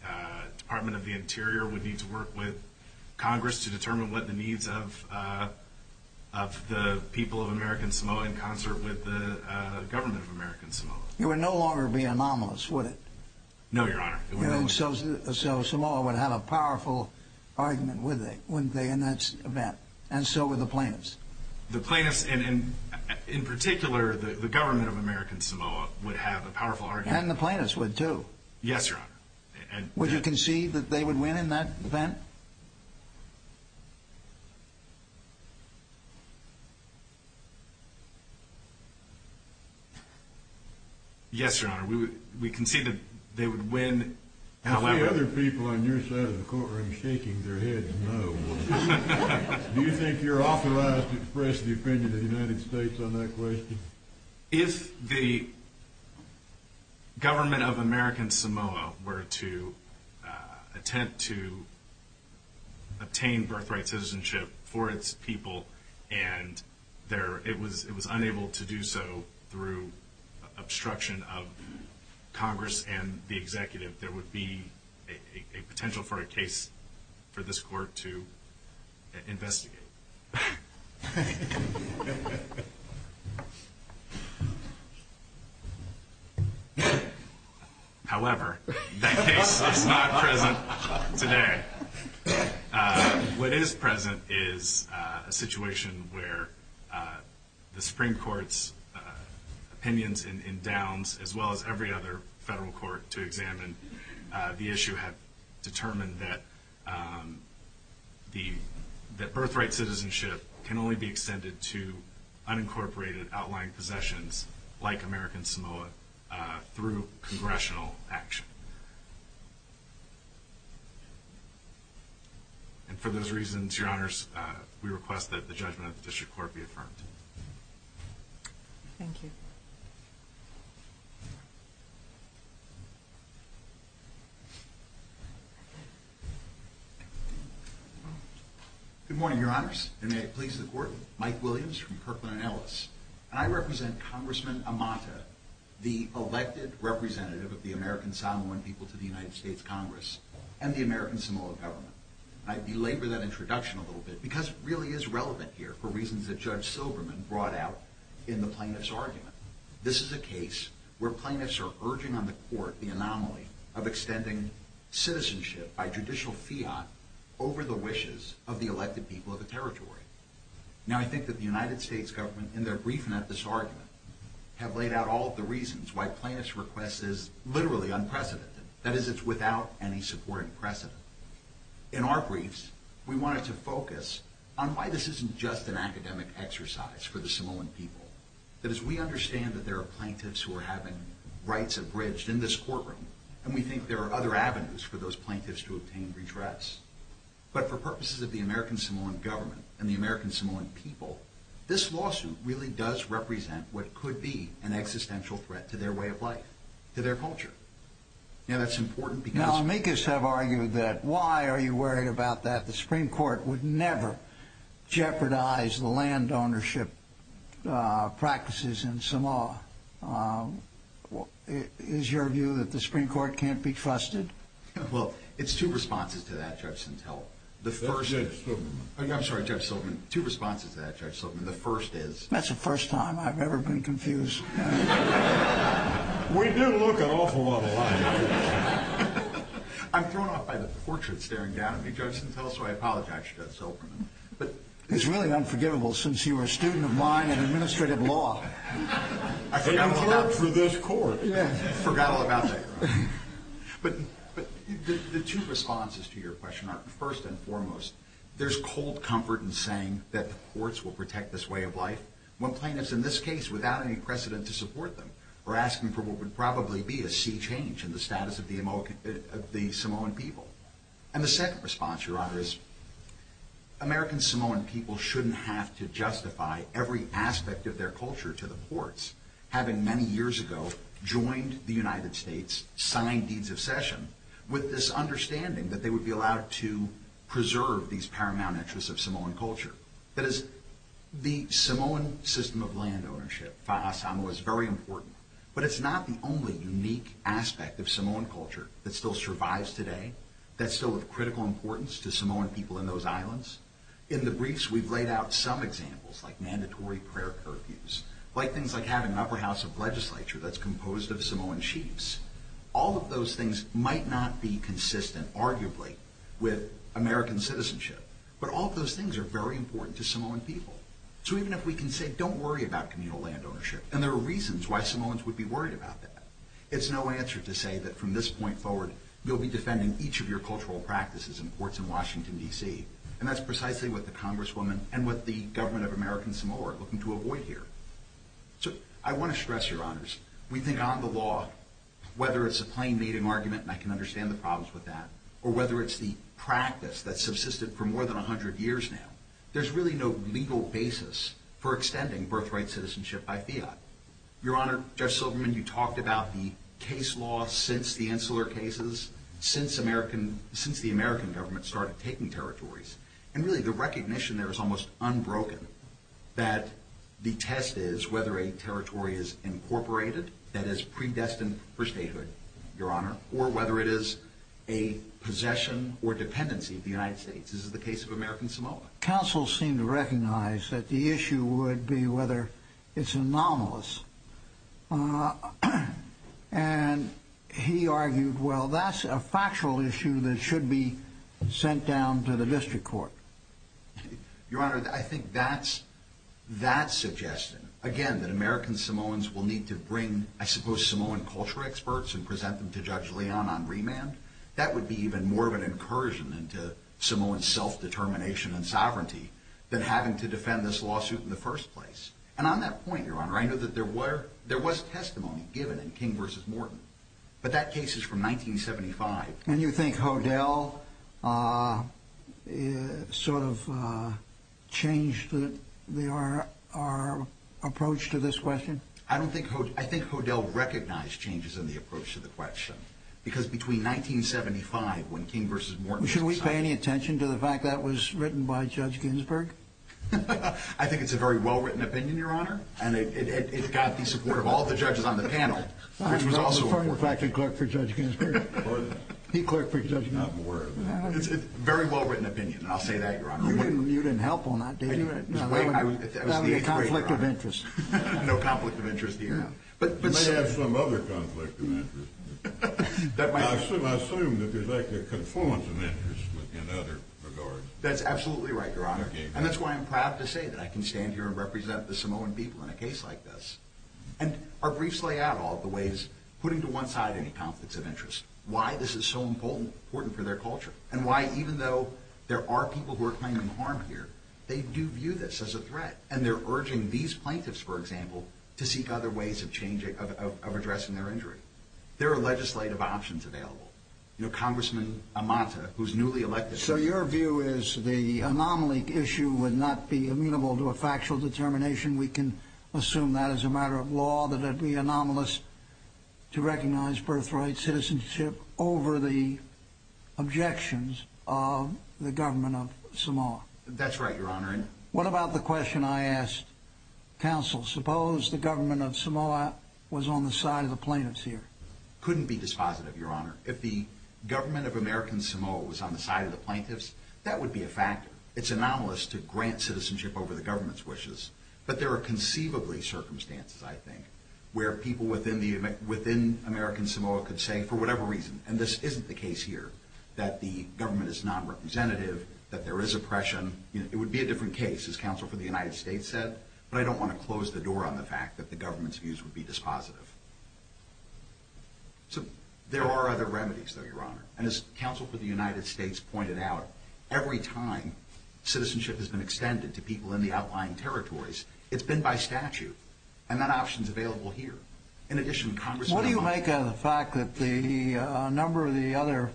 Department of the Interior would need to work with Congress to determine what the needs of the people of American Samoa in concert with the government of American Samoa. It would no longer be anomalous, would it? No, Your Honor. So Samoa would have a powerful argument, wouldn't they, in that event? And so would the plaintiffs. The plaintiffs, and in particular, the government of American Samoa would have a powerful argument. And the plaintiffs would, too. Yes, Your Honor. Would you concede that they would win in that event? Yes, Your Honor. We concede that they would win, however. How many other people on your side of the courtroom shaking their heads no? Do you think you're authorized to express the opinion of the United States on that question? If the government of American Samoa were to attempt to obtain birthright citizenship for its people and it was unable to do so through obstruction of Congress and the executive, there would be a potential for a case for this court to investigate. However, that case is not present today. What is present is a situation where the Supreme Court's opinions and downs, as well as every other federal court to examine the issue, have determined that birthright citizenship can only be extended to unincorporated, outlying possessions like American Samoa through congressional action. And for those reasons, Your Honors, we request that the judgment of the district court be affirmed. Thank you. Good morning, Your Honors, and may it please the Court. Mike Williams from Kirkland & Ellis. I represent Congressman Amata, the elected representative of the American Samoan people to the United States Congress and the American Samoa government. I belabor that introduction a little bit because it really is relevant here for reasons that Judge Silberman brought out in the plaintiff's argument. This is a case where plaintiffs are urging on the court the anomaly of extending citizenship by judicial fiat over the wishes of the elected people of the territory. Now, I think that the United States government, in their briefing at this argument, have laid out all of the reasons why a plaintiff's request is literally unprecedented, that is, it's without any supporting precedent. In our briefs, we wanted to focus on why this isn't just an academic exercise for the Samoan people. That is, we understand that there are plaintiffs who are having rights abridged in this courtroom, and we think there are other avenues for those plaintiffs to obtain redress. But for purposes of the American Samoan government and the American Samoan people, this lawsuit really does represent what could be an existential threat to their way of life, to their culture. Now, that's important because... Why are you worried about that? The Supreme Court would never jeopardize the land ownership practices in Samoa. Is your view that the Supreme Court can't be trusted? Well, it's two responses to that, Judge Sintel. The first is... I'm sorry, Judge Silberman. Two responses to that, Judge Silberman. The first is... That's the first time I've ever been confused. We do look an awful lot alike. I'm thrown off by the portrait staring down at me, Judge Sintel, so I apologize, Judge Silberman. It's really unforgivable since you were a student of mine in administrative law. I forgot all about that. Forgot for this court. Forgot all about that. But the two responses to your question are, first and foremost, there's cold comfort in saying that the courts will protect this way of life when plaintiffs, in this case, without any precedent to support them, are asking for what would probably be a sea change in the status of the Samoan people. And the second response, Your Honor, is... American Samoan people shouldn't have to justify every aspect of their culture to the courts, having many years ago joined the United States, signed deeds of cession, with this understanding that they would be allowed to preserve these paramount interests of Samoan culture. That is, the Samoan system of land ownership, fa'asamoa, is very important, but it's not the only unique aspect of Samoan culture that still survives today, that's still of critical importance to Samoan people in those islands. In the briefs, we've laid out some examples, like mandatory prayer curfews, like things like having an upper house of legislature that's composed of Samoan chiefs. All of those things might not be consistent, arguably, with American citizenship, but all of those things are very important to Samoan people. So even if we can say, don't worry about communal land ownership, and there are reasons why Samoans would be worried about that, it's no answer to say that from this point forward, you'll be defending each of your cultural practices in courts in Washington, D.C., and that's precisely what the Congresswoman and what the government of American Samoa are looking to avoid here. So, I want to stress, Your Honors, we think on the law, whether it's a plain native argument, and I can understand the problems with that, or whether it's the practice that's subsisted for more than 100 years now, there's really no legal basis for extending birthright citizenship by fiat. Your Honor, Judge Silverman, you talked about the case law since the Insular Cases, since the American government started taking territories, and really the recognition there is almost unbroken, that the test is whether a territory is incorporated, that is predestined for statehood, Your Honor, or whether it is a possession or dependency of the United States. This is the case of American Samoa. Counsel seemed to recognize that the issue would be whether it's anomalous, and he argued, well, that's a factual issue that should be sent down to the district court. Your Honor, I think that's that suggestion. Again, that American Samoans will need to bring, I suppose, Samoan culture experts and present them to Judge Leon on remand. That would be even more of an incursion into Samoan self-determination and sovereignty than having to defend this lawsuit in the first place. And on that point, Your Honor, I know that there was testimony given in King v. Morton, but that case is from 1975. And you think Hodel sort of changed our approach to this question? I think Hodel recognized changes in the approach to the question because between 1975 when King v. Morton was decided. Should we pay any attention to the fact that that was written by Judge Ginsburg? I think it's a very well-written opinion, Your Honor, and it got the support of all the judges on the panel, which was also important. I'm a former faculty clerk for Judge Ginsburg. He clerked for Judge Ginsburg. It's a very well-written opinion, and I'll say that, Your Honor. You didn't help on that, did you? That would be a conflict of interest. No conflict of interest here. You may have some other conflict of interest. I assume that there's like a confluence of interest in other regards. That's absolutely right, Your Honor, and that's why I'm proud to say that I can stand here and represent the Samoan people in a case like this. And our briefs lay out all the ways, putting to one side any conflicts of interest, why this is so important for their culture and why even though there are people who are claiming harm here, they do view this as a threat, and they're urging these plaintiffs, for example, to seek other ways of addressing their injury. There are legislative options available. You know, Congressman Amata, who's newly elected. So your view is the anomaly issue would not be amenable to a factual determination. We can assume that as a matter of law, that it would be anomalous to recognize birthright citizenship over the objections of the government of Samoa. That's right, Your Honor. What about the question I asked counsel? Suppose the government of Samoa was on the side of the plaintiffs here. Couldn't be dispositive, Your Honor. If the government of American Samoa was on the side of the plaintiffs, that would be a factor. It's anomalous to grant citizenship over the government's wishes. But there are conceivably circumstances, I think, where people within American Samoa could say, for whatever reason, and this isn't the case here, that the government is non-representative, that there is oppression. It would be a different case, as counsel for the United States said, but I don't want to close the door on the fact that the government's views would be dispositive. So there are other remedies, though, Your Honor. And as counsel for the United States pointed out, every time citizenship has been extended to people in the outlying territories, it's been by statute. And that option's available here. In addition, Congressman Amata. What do you make of the fact that a number of the other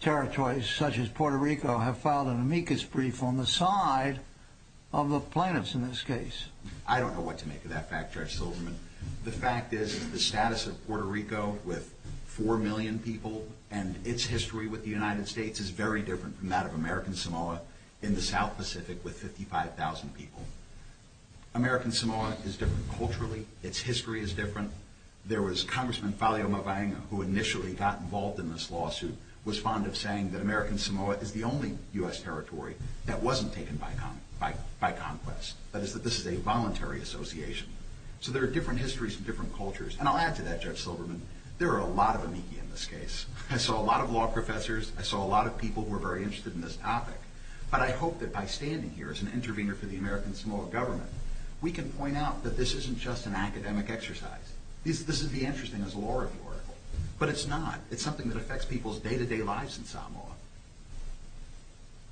territories, such as Puerto Rico, have filed an amicus brief on the side of the plaintiffs in this case? I don't know what to make of that fact, Judge Silverman. The fact is, the status of Puerto Rico with 4 million people and its history with the United States is very different from that of American Samoa in the South Pacific with 55,000 people. American Samoa is different culturally. Its history is different. There was Congressman Faleoma Vaenga, who initially got involved in this lawsuit, was fond of saying that American Samoa is the only U.S. territory that wasn't taken by conquest. That is, that this is a voluntary association. So there are different histories and different cultures. And I'll add to that, Judge Silverman, there are a lot of amici in this case. I saw a lot of law professors. I saw a lot of people who were very interested in this topic. But I hope that by standing here as an intervener for the American Samoa government, we can point out that this isn't just an academic exercise. This is the interesting as a law review article. But it's not. It's something that affects people's day-to-day lives in Samoa.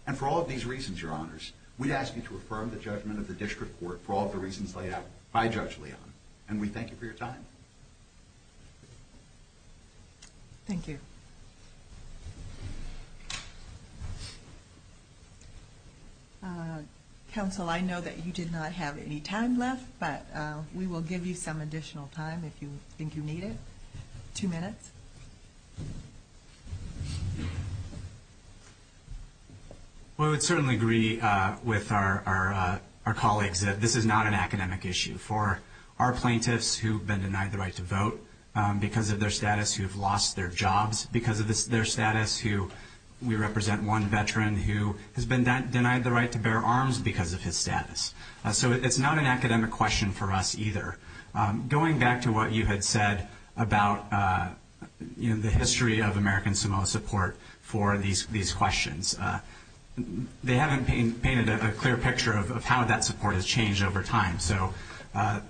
And for all of these reasons, Your Honors, we ask you to affirm the judgment of the district court for all the reasons laid out by Judge Leon. And we thank you for your time. Thank you. Counsel, I know that you did not have any time left, but we will give you some additional time if you think you need it. Two minutes. Well, I would certainly agree with our colleagues that this is not an academic issue. For our plaintiffs who have been denied the right to vote because of their status, who have lost their jobs because of their status, we represent one veteran who has been denied the right to bear arms because of his status. So it's not an academic question for us either. Going back to what you had said about the history of American Samoa support for these questions, they haven't painted a clear picture of how that support has changed over time. So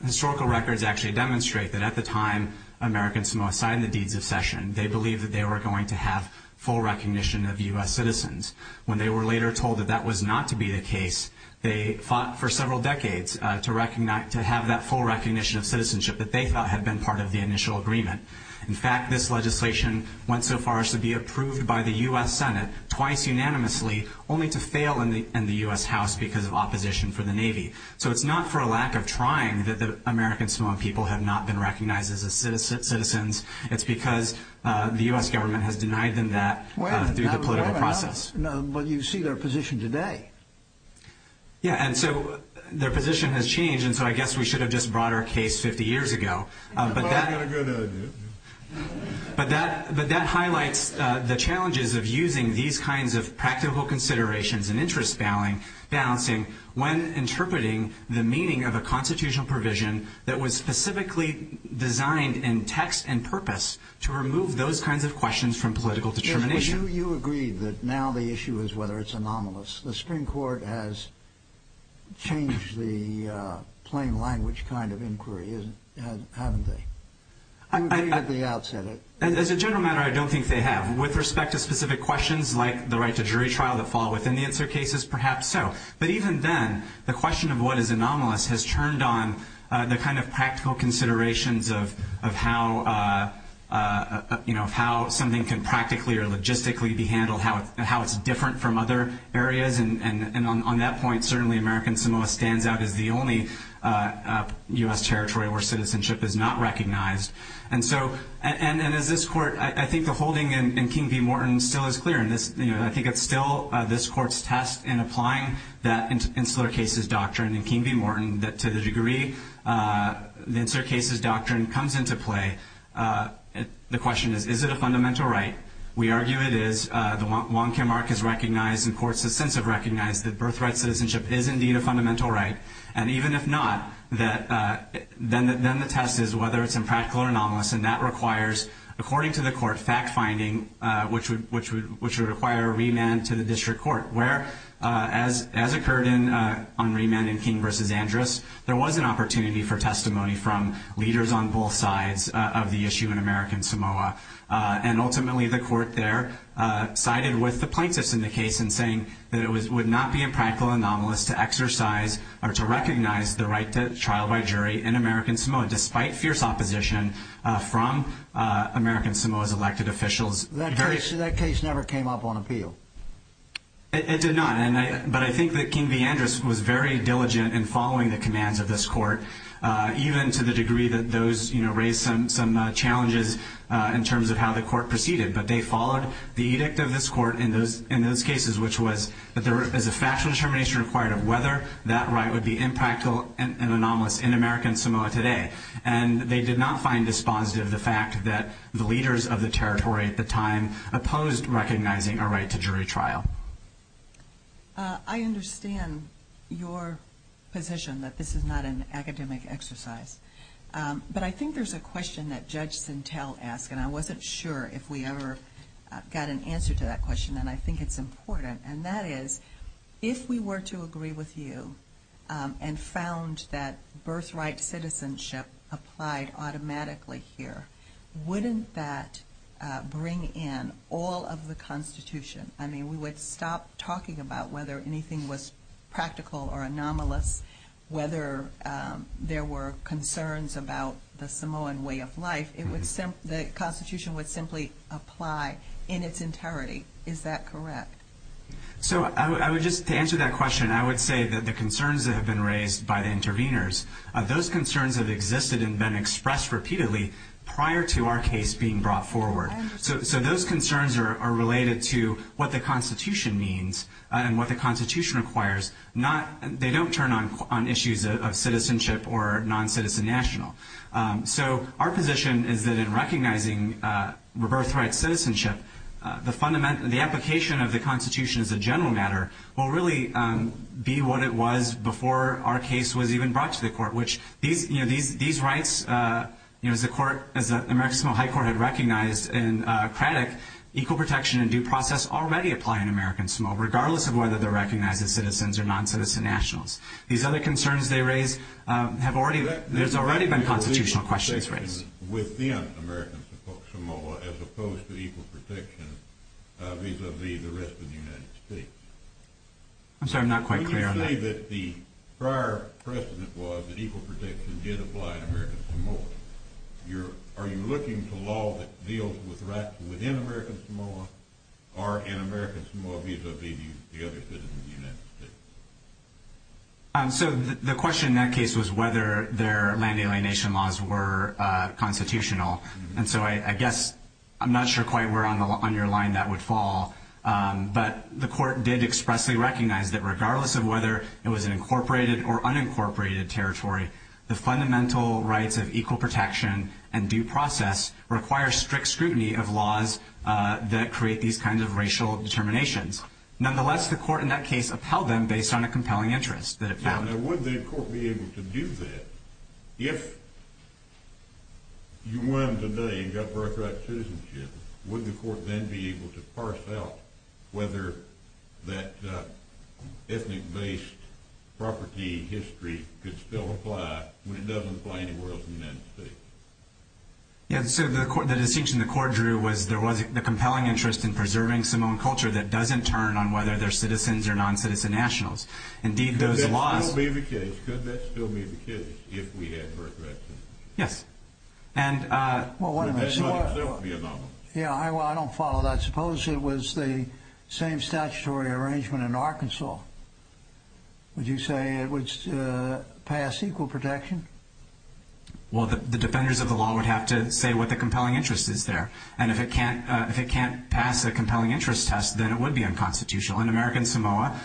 historical records actually demonstrate that at the time American Samoa signed the Deeds of Session, they believed that they were going to have full recognition of U.S. citizens. When they were later told that that was not to be the case, they fought for several decades to have that full recognition of citizenship that they thought had been part of the initial agreement. In fact, this legislation went so far as to be approved by the U.S. Senate twice unanimously, only to fail in the U.S. House because of opposition from the Navy. So it's not for a lack of trying that the American Samoan people have not been recognized as citizens. It's because the U.S. government has denied them that through the political process. Well, you see their position today. Yeah, and so their position has changed, and so I guess we should have just brought our case 50 years ago. But that highlights the challenges of using these kinds of practical considerations and interest balancing when interpreting the meaning of a constitutional provision that was specifically designed in text and purpose to remove those kinds of questions from political determination. Well, you agreed that now the issue is whether it's anomalous. The Supreme Court has changed the plain language kind of inquiry, haven't they? I'm getting at the outset of it. As a general matter, I don't think they have. With respect to specific questions like the right to jury trial that fall within the answer cases, perhaps so. But even then, the question of what is anomalous has turned on the kind of practical considerations of how something can practically or logistically be handled, how it's different from other areas. And on that point, certainly American Samoa stands out as the only U.S. territory where citizenship is not recognized. And as this Court, I think the holding in King v. Morton still is clear. I think it's still this Court's test in applying that answer cases doctrine in King v. Morton to the degree the answer cases doctrine comes into play. The question is, is it a fundamental right? We argue it is. Wong Kim Ark has recognized and courts have since recognized that birthright citizenship is indeed a fundamental right. And even if not, then the test is whether it's impractical or anomalous. And that requires, according to the Court, fact-finding, which would require a remand to the district court. Where, as occurred on remand in King v. Andrus, there was an opportunity for testimony from leaders on both sides of the issue in American Samoa. And ultimately, the Court there sided with the plaintiffs in the case in saying that it would not be a practical anomalous to exercise or to recognize the right to trial by jury in American Samoa, despite fierce opposition from American Samoa's elected officials. That case never came up on appeal. It did not. But I think that King v. Andrus was very diligent in following the commands of this Court, even to the degree that those raised some challenges in terms of how the Court proceeded. But they followed the edict of this Court in those cases, which was that there is a factual determination required of whether that right would be impractical and anomalous in American Samoa today. And they did not find dispositive the fact that the leaders of the territory at the time opposed recognizing a right to jury trial. I understand your position that this is not an academic exercise. But I think there's a question that Judge Sintel asked, and I wasn't sure if we ever got an answer to that question, and I think it's important. And that is, if we were to agree with you and found that birthright citizenship applied automatically here, wouldn't that bring in all of the Constitution? I mean, we would stop talking about whether anything was practical or anomalous, whether there were concerns about the Samoan way of life. The Constitution would simply apply in its entirety. Is that correct? So I would just, to answer that question, I would say that the concerns that have been raised by the interveners, those concerns have existed and been expressed repeatedly prior to our case being brought forward. So those concerns are related to what the Constitution means and what the Constitution requires. They don't turn on issues of citizenship or non-citizen national. So our position is that in recognizing rebirthright citizenship, the application of the Constitution as a general matter will really be what it was before our case was even brought to the court, which these rights, as the American Samoan High Court had recognized in Craddock, equal protection and due process already apply in American Samoa, regardless of whether they're recognized as citizens or non-citizen nationals. These other concerns they raise have already, there's already been constitutional questions raised. Within American Samoa as opposed to equal protection vis-a-vis the rest of the United States. I'm sorry, I'm not quite clear on that. You say that the prior precedent was that equal protection did apply in American Samoa. Are you looking to law that deals with rights within American Samoa or in American Samoa vis-a-vis the other citizens of the United States? So the question in that case was whether their land alienation laws were constitutional. And so I guess I'm not sure quite where on your line that would fall. But the court did expressly recognize that regardless of whether it was an incorporated or unincorporated territory, the fundamental rights of equal protection and due process require strict scrutiny of laws that create these kinds of racial determinations. Nonetheless, the court in that case upheld them based on a compelling interest that it found. Now, would the court be able to do that if you won today and got birthright citizenship? Would the court then be able to parse out whether that ethnic-based property history could still apply when it doesn't apply anywhere else in the United States? Yeah, so the distinction the court drew was there was a compelling interest in preserving Samoan culture that doesn't turn on whether they're citizens or non-citizen nationals. Indeed, those laws— Could that still be the case? Could that still be the case if we had birthright citizenship? Yes. And— Well, wait a minute. Would that not itself be anomalous? Yeah, well, I don't follow that. Suppose it was the same statutory arrangement in Arkansas. Would you say it would pass equal protection? Well, the defenders of the law would have to say what the compelling interest is there. And if it can't pass a compelling interest test, then it would be unconstitutional. In American Samoa,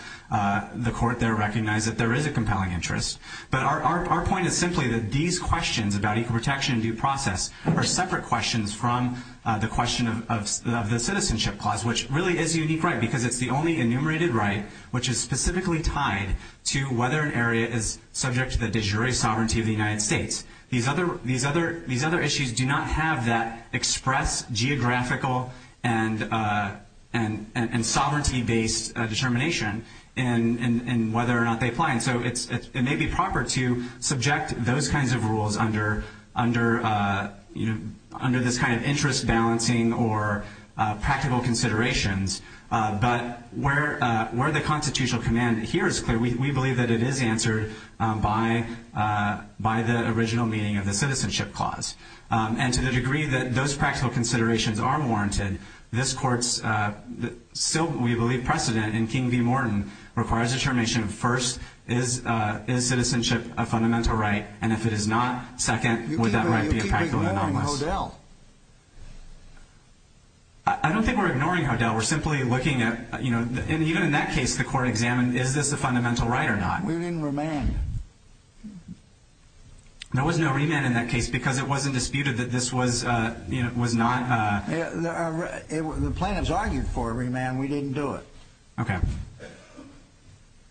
the court there recognized that there is a compelling interest. But our point is simply that these questions about equal protection and due process are separate questions from the question of the citizenship clause, which really is a unique right because it's the only enumerated right which is specifically tied to whether an area is subject to the sovereignty of the United States. These other issues do not have that express geographical and sovereignty-based determination in whether or not they apply. And so it may be proper to subject those kinds of rules under this kind of interest balancing or practical considerations. But where the constitutional command here is clear, we believe that it is answered by the original meaning of the citizenship clause. And to the degree that those practical considerations are warranted, this court's still, we believe, precedent in King v. Morton requires determination first, is citizenship a fundamental right? And if it is not, second, would that right be impractically anomalous? You keep ignoring Hodel. I don't think we're ignoring Hodel. We're simply looking at, you know, even in that case, the court examined, is this a fundamental right or not? We didn't remand. There was no remand in that case because it wasn't disputed that this was not. The plaintiffs argued for a remand. We didn't do it. Okay.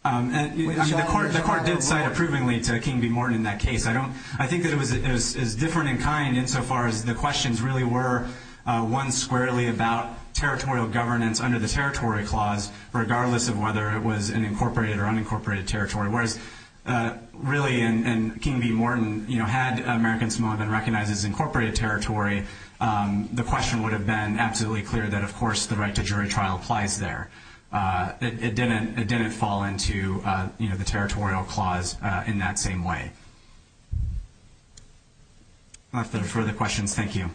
The court did cite approvingly to King v. Morton in that case. I think that it was different in kind insofar as the questions really were one squarely about territorial governance under the Territory Clause, regardless of whether it was an incorporated or unincorporated territory. Whereas, really, in King v. Morton, you know, had American Samoan been recognized as incorporated territory, the question would have been absolutely clear that, of course, the right to jury trial applies there. It didn't fall into, you know, the Territorial Clause in that same way. If there are further questions, thank you.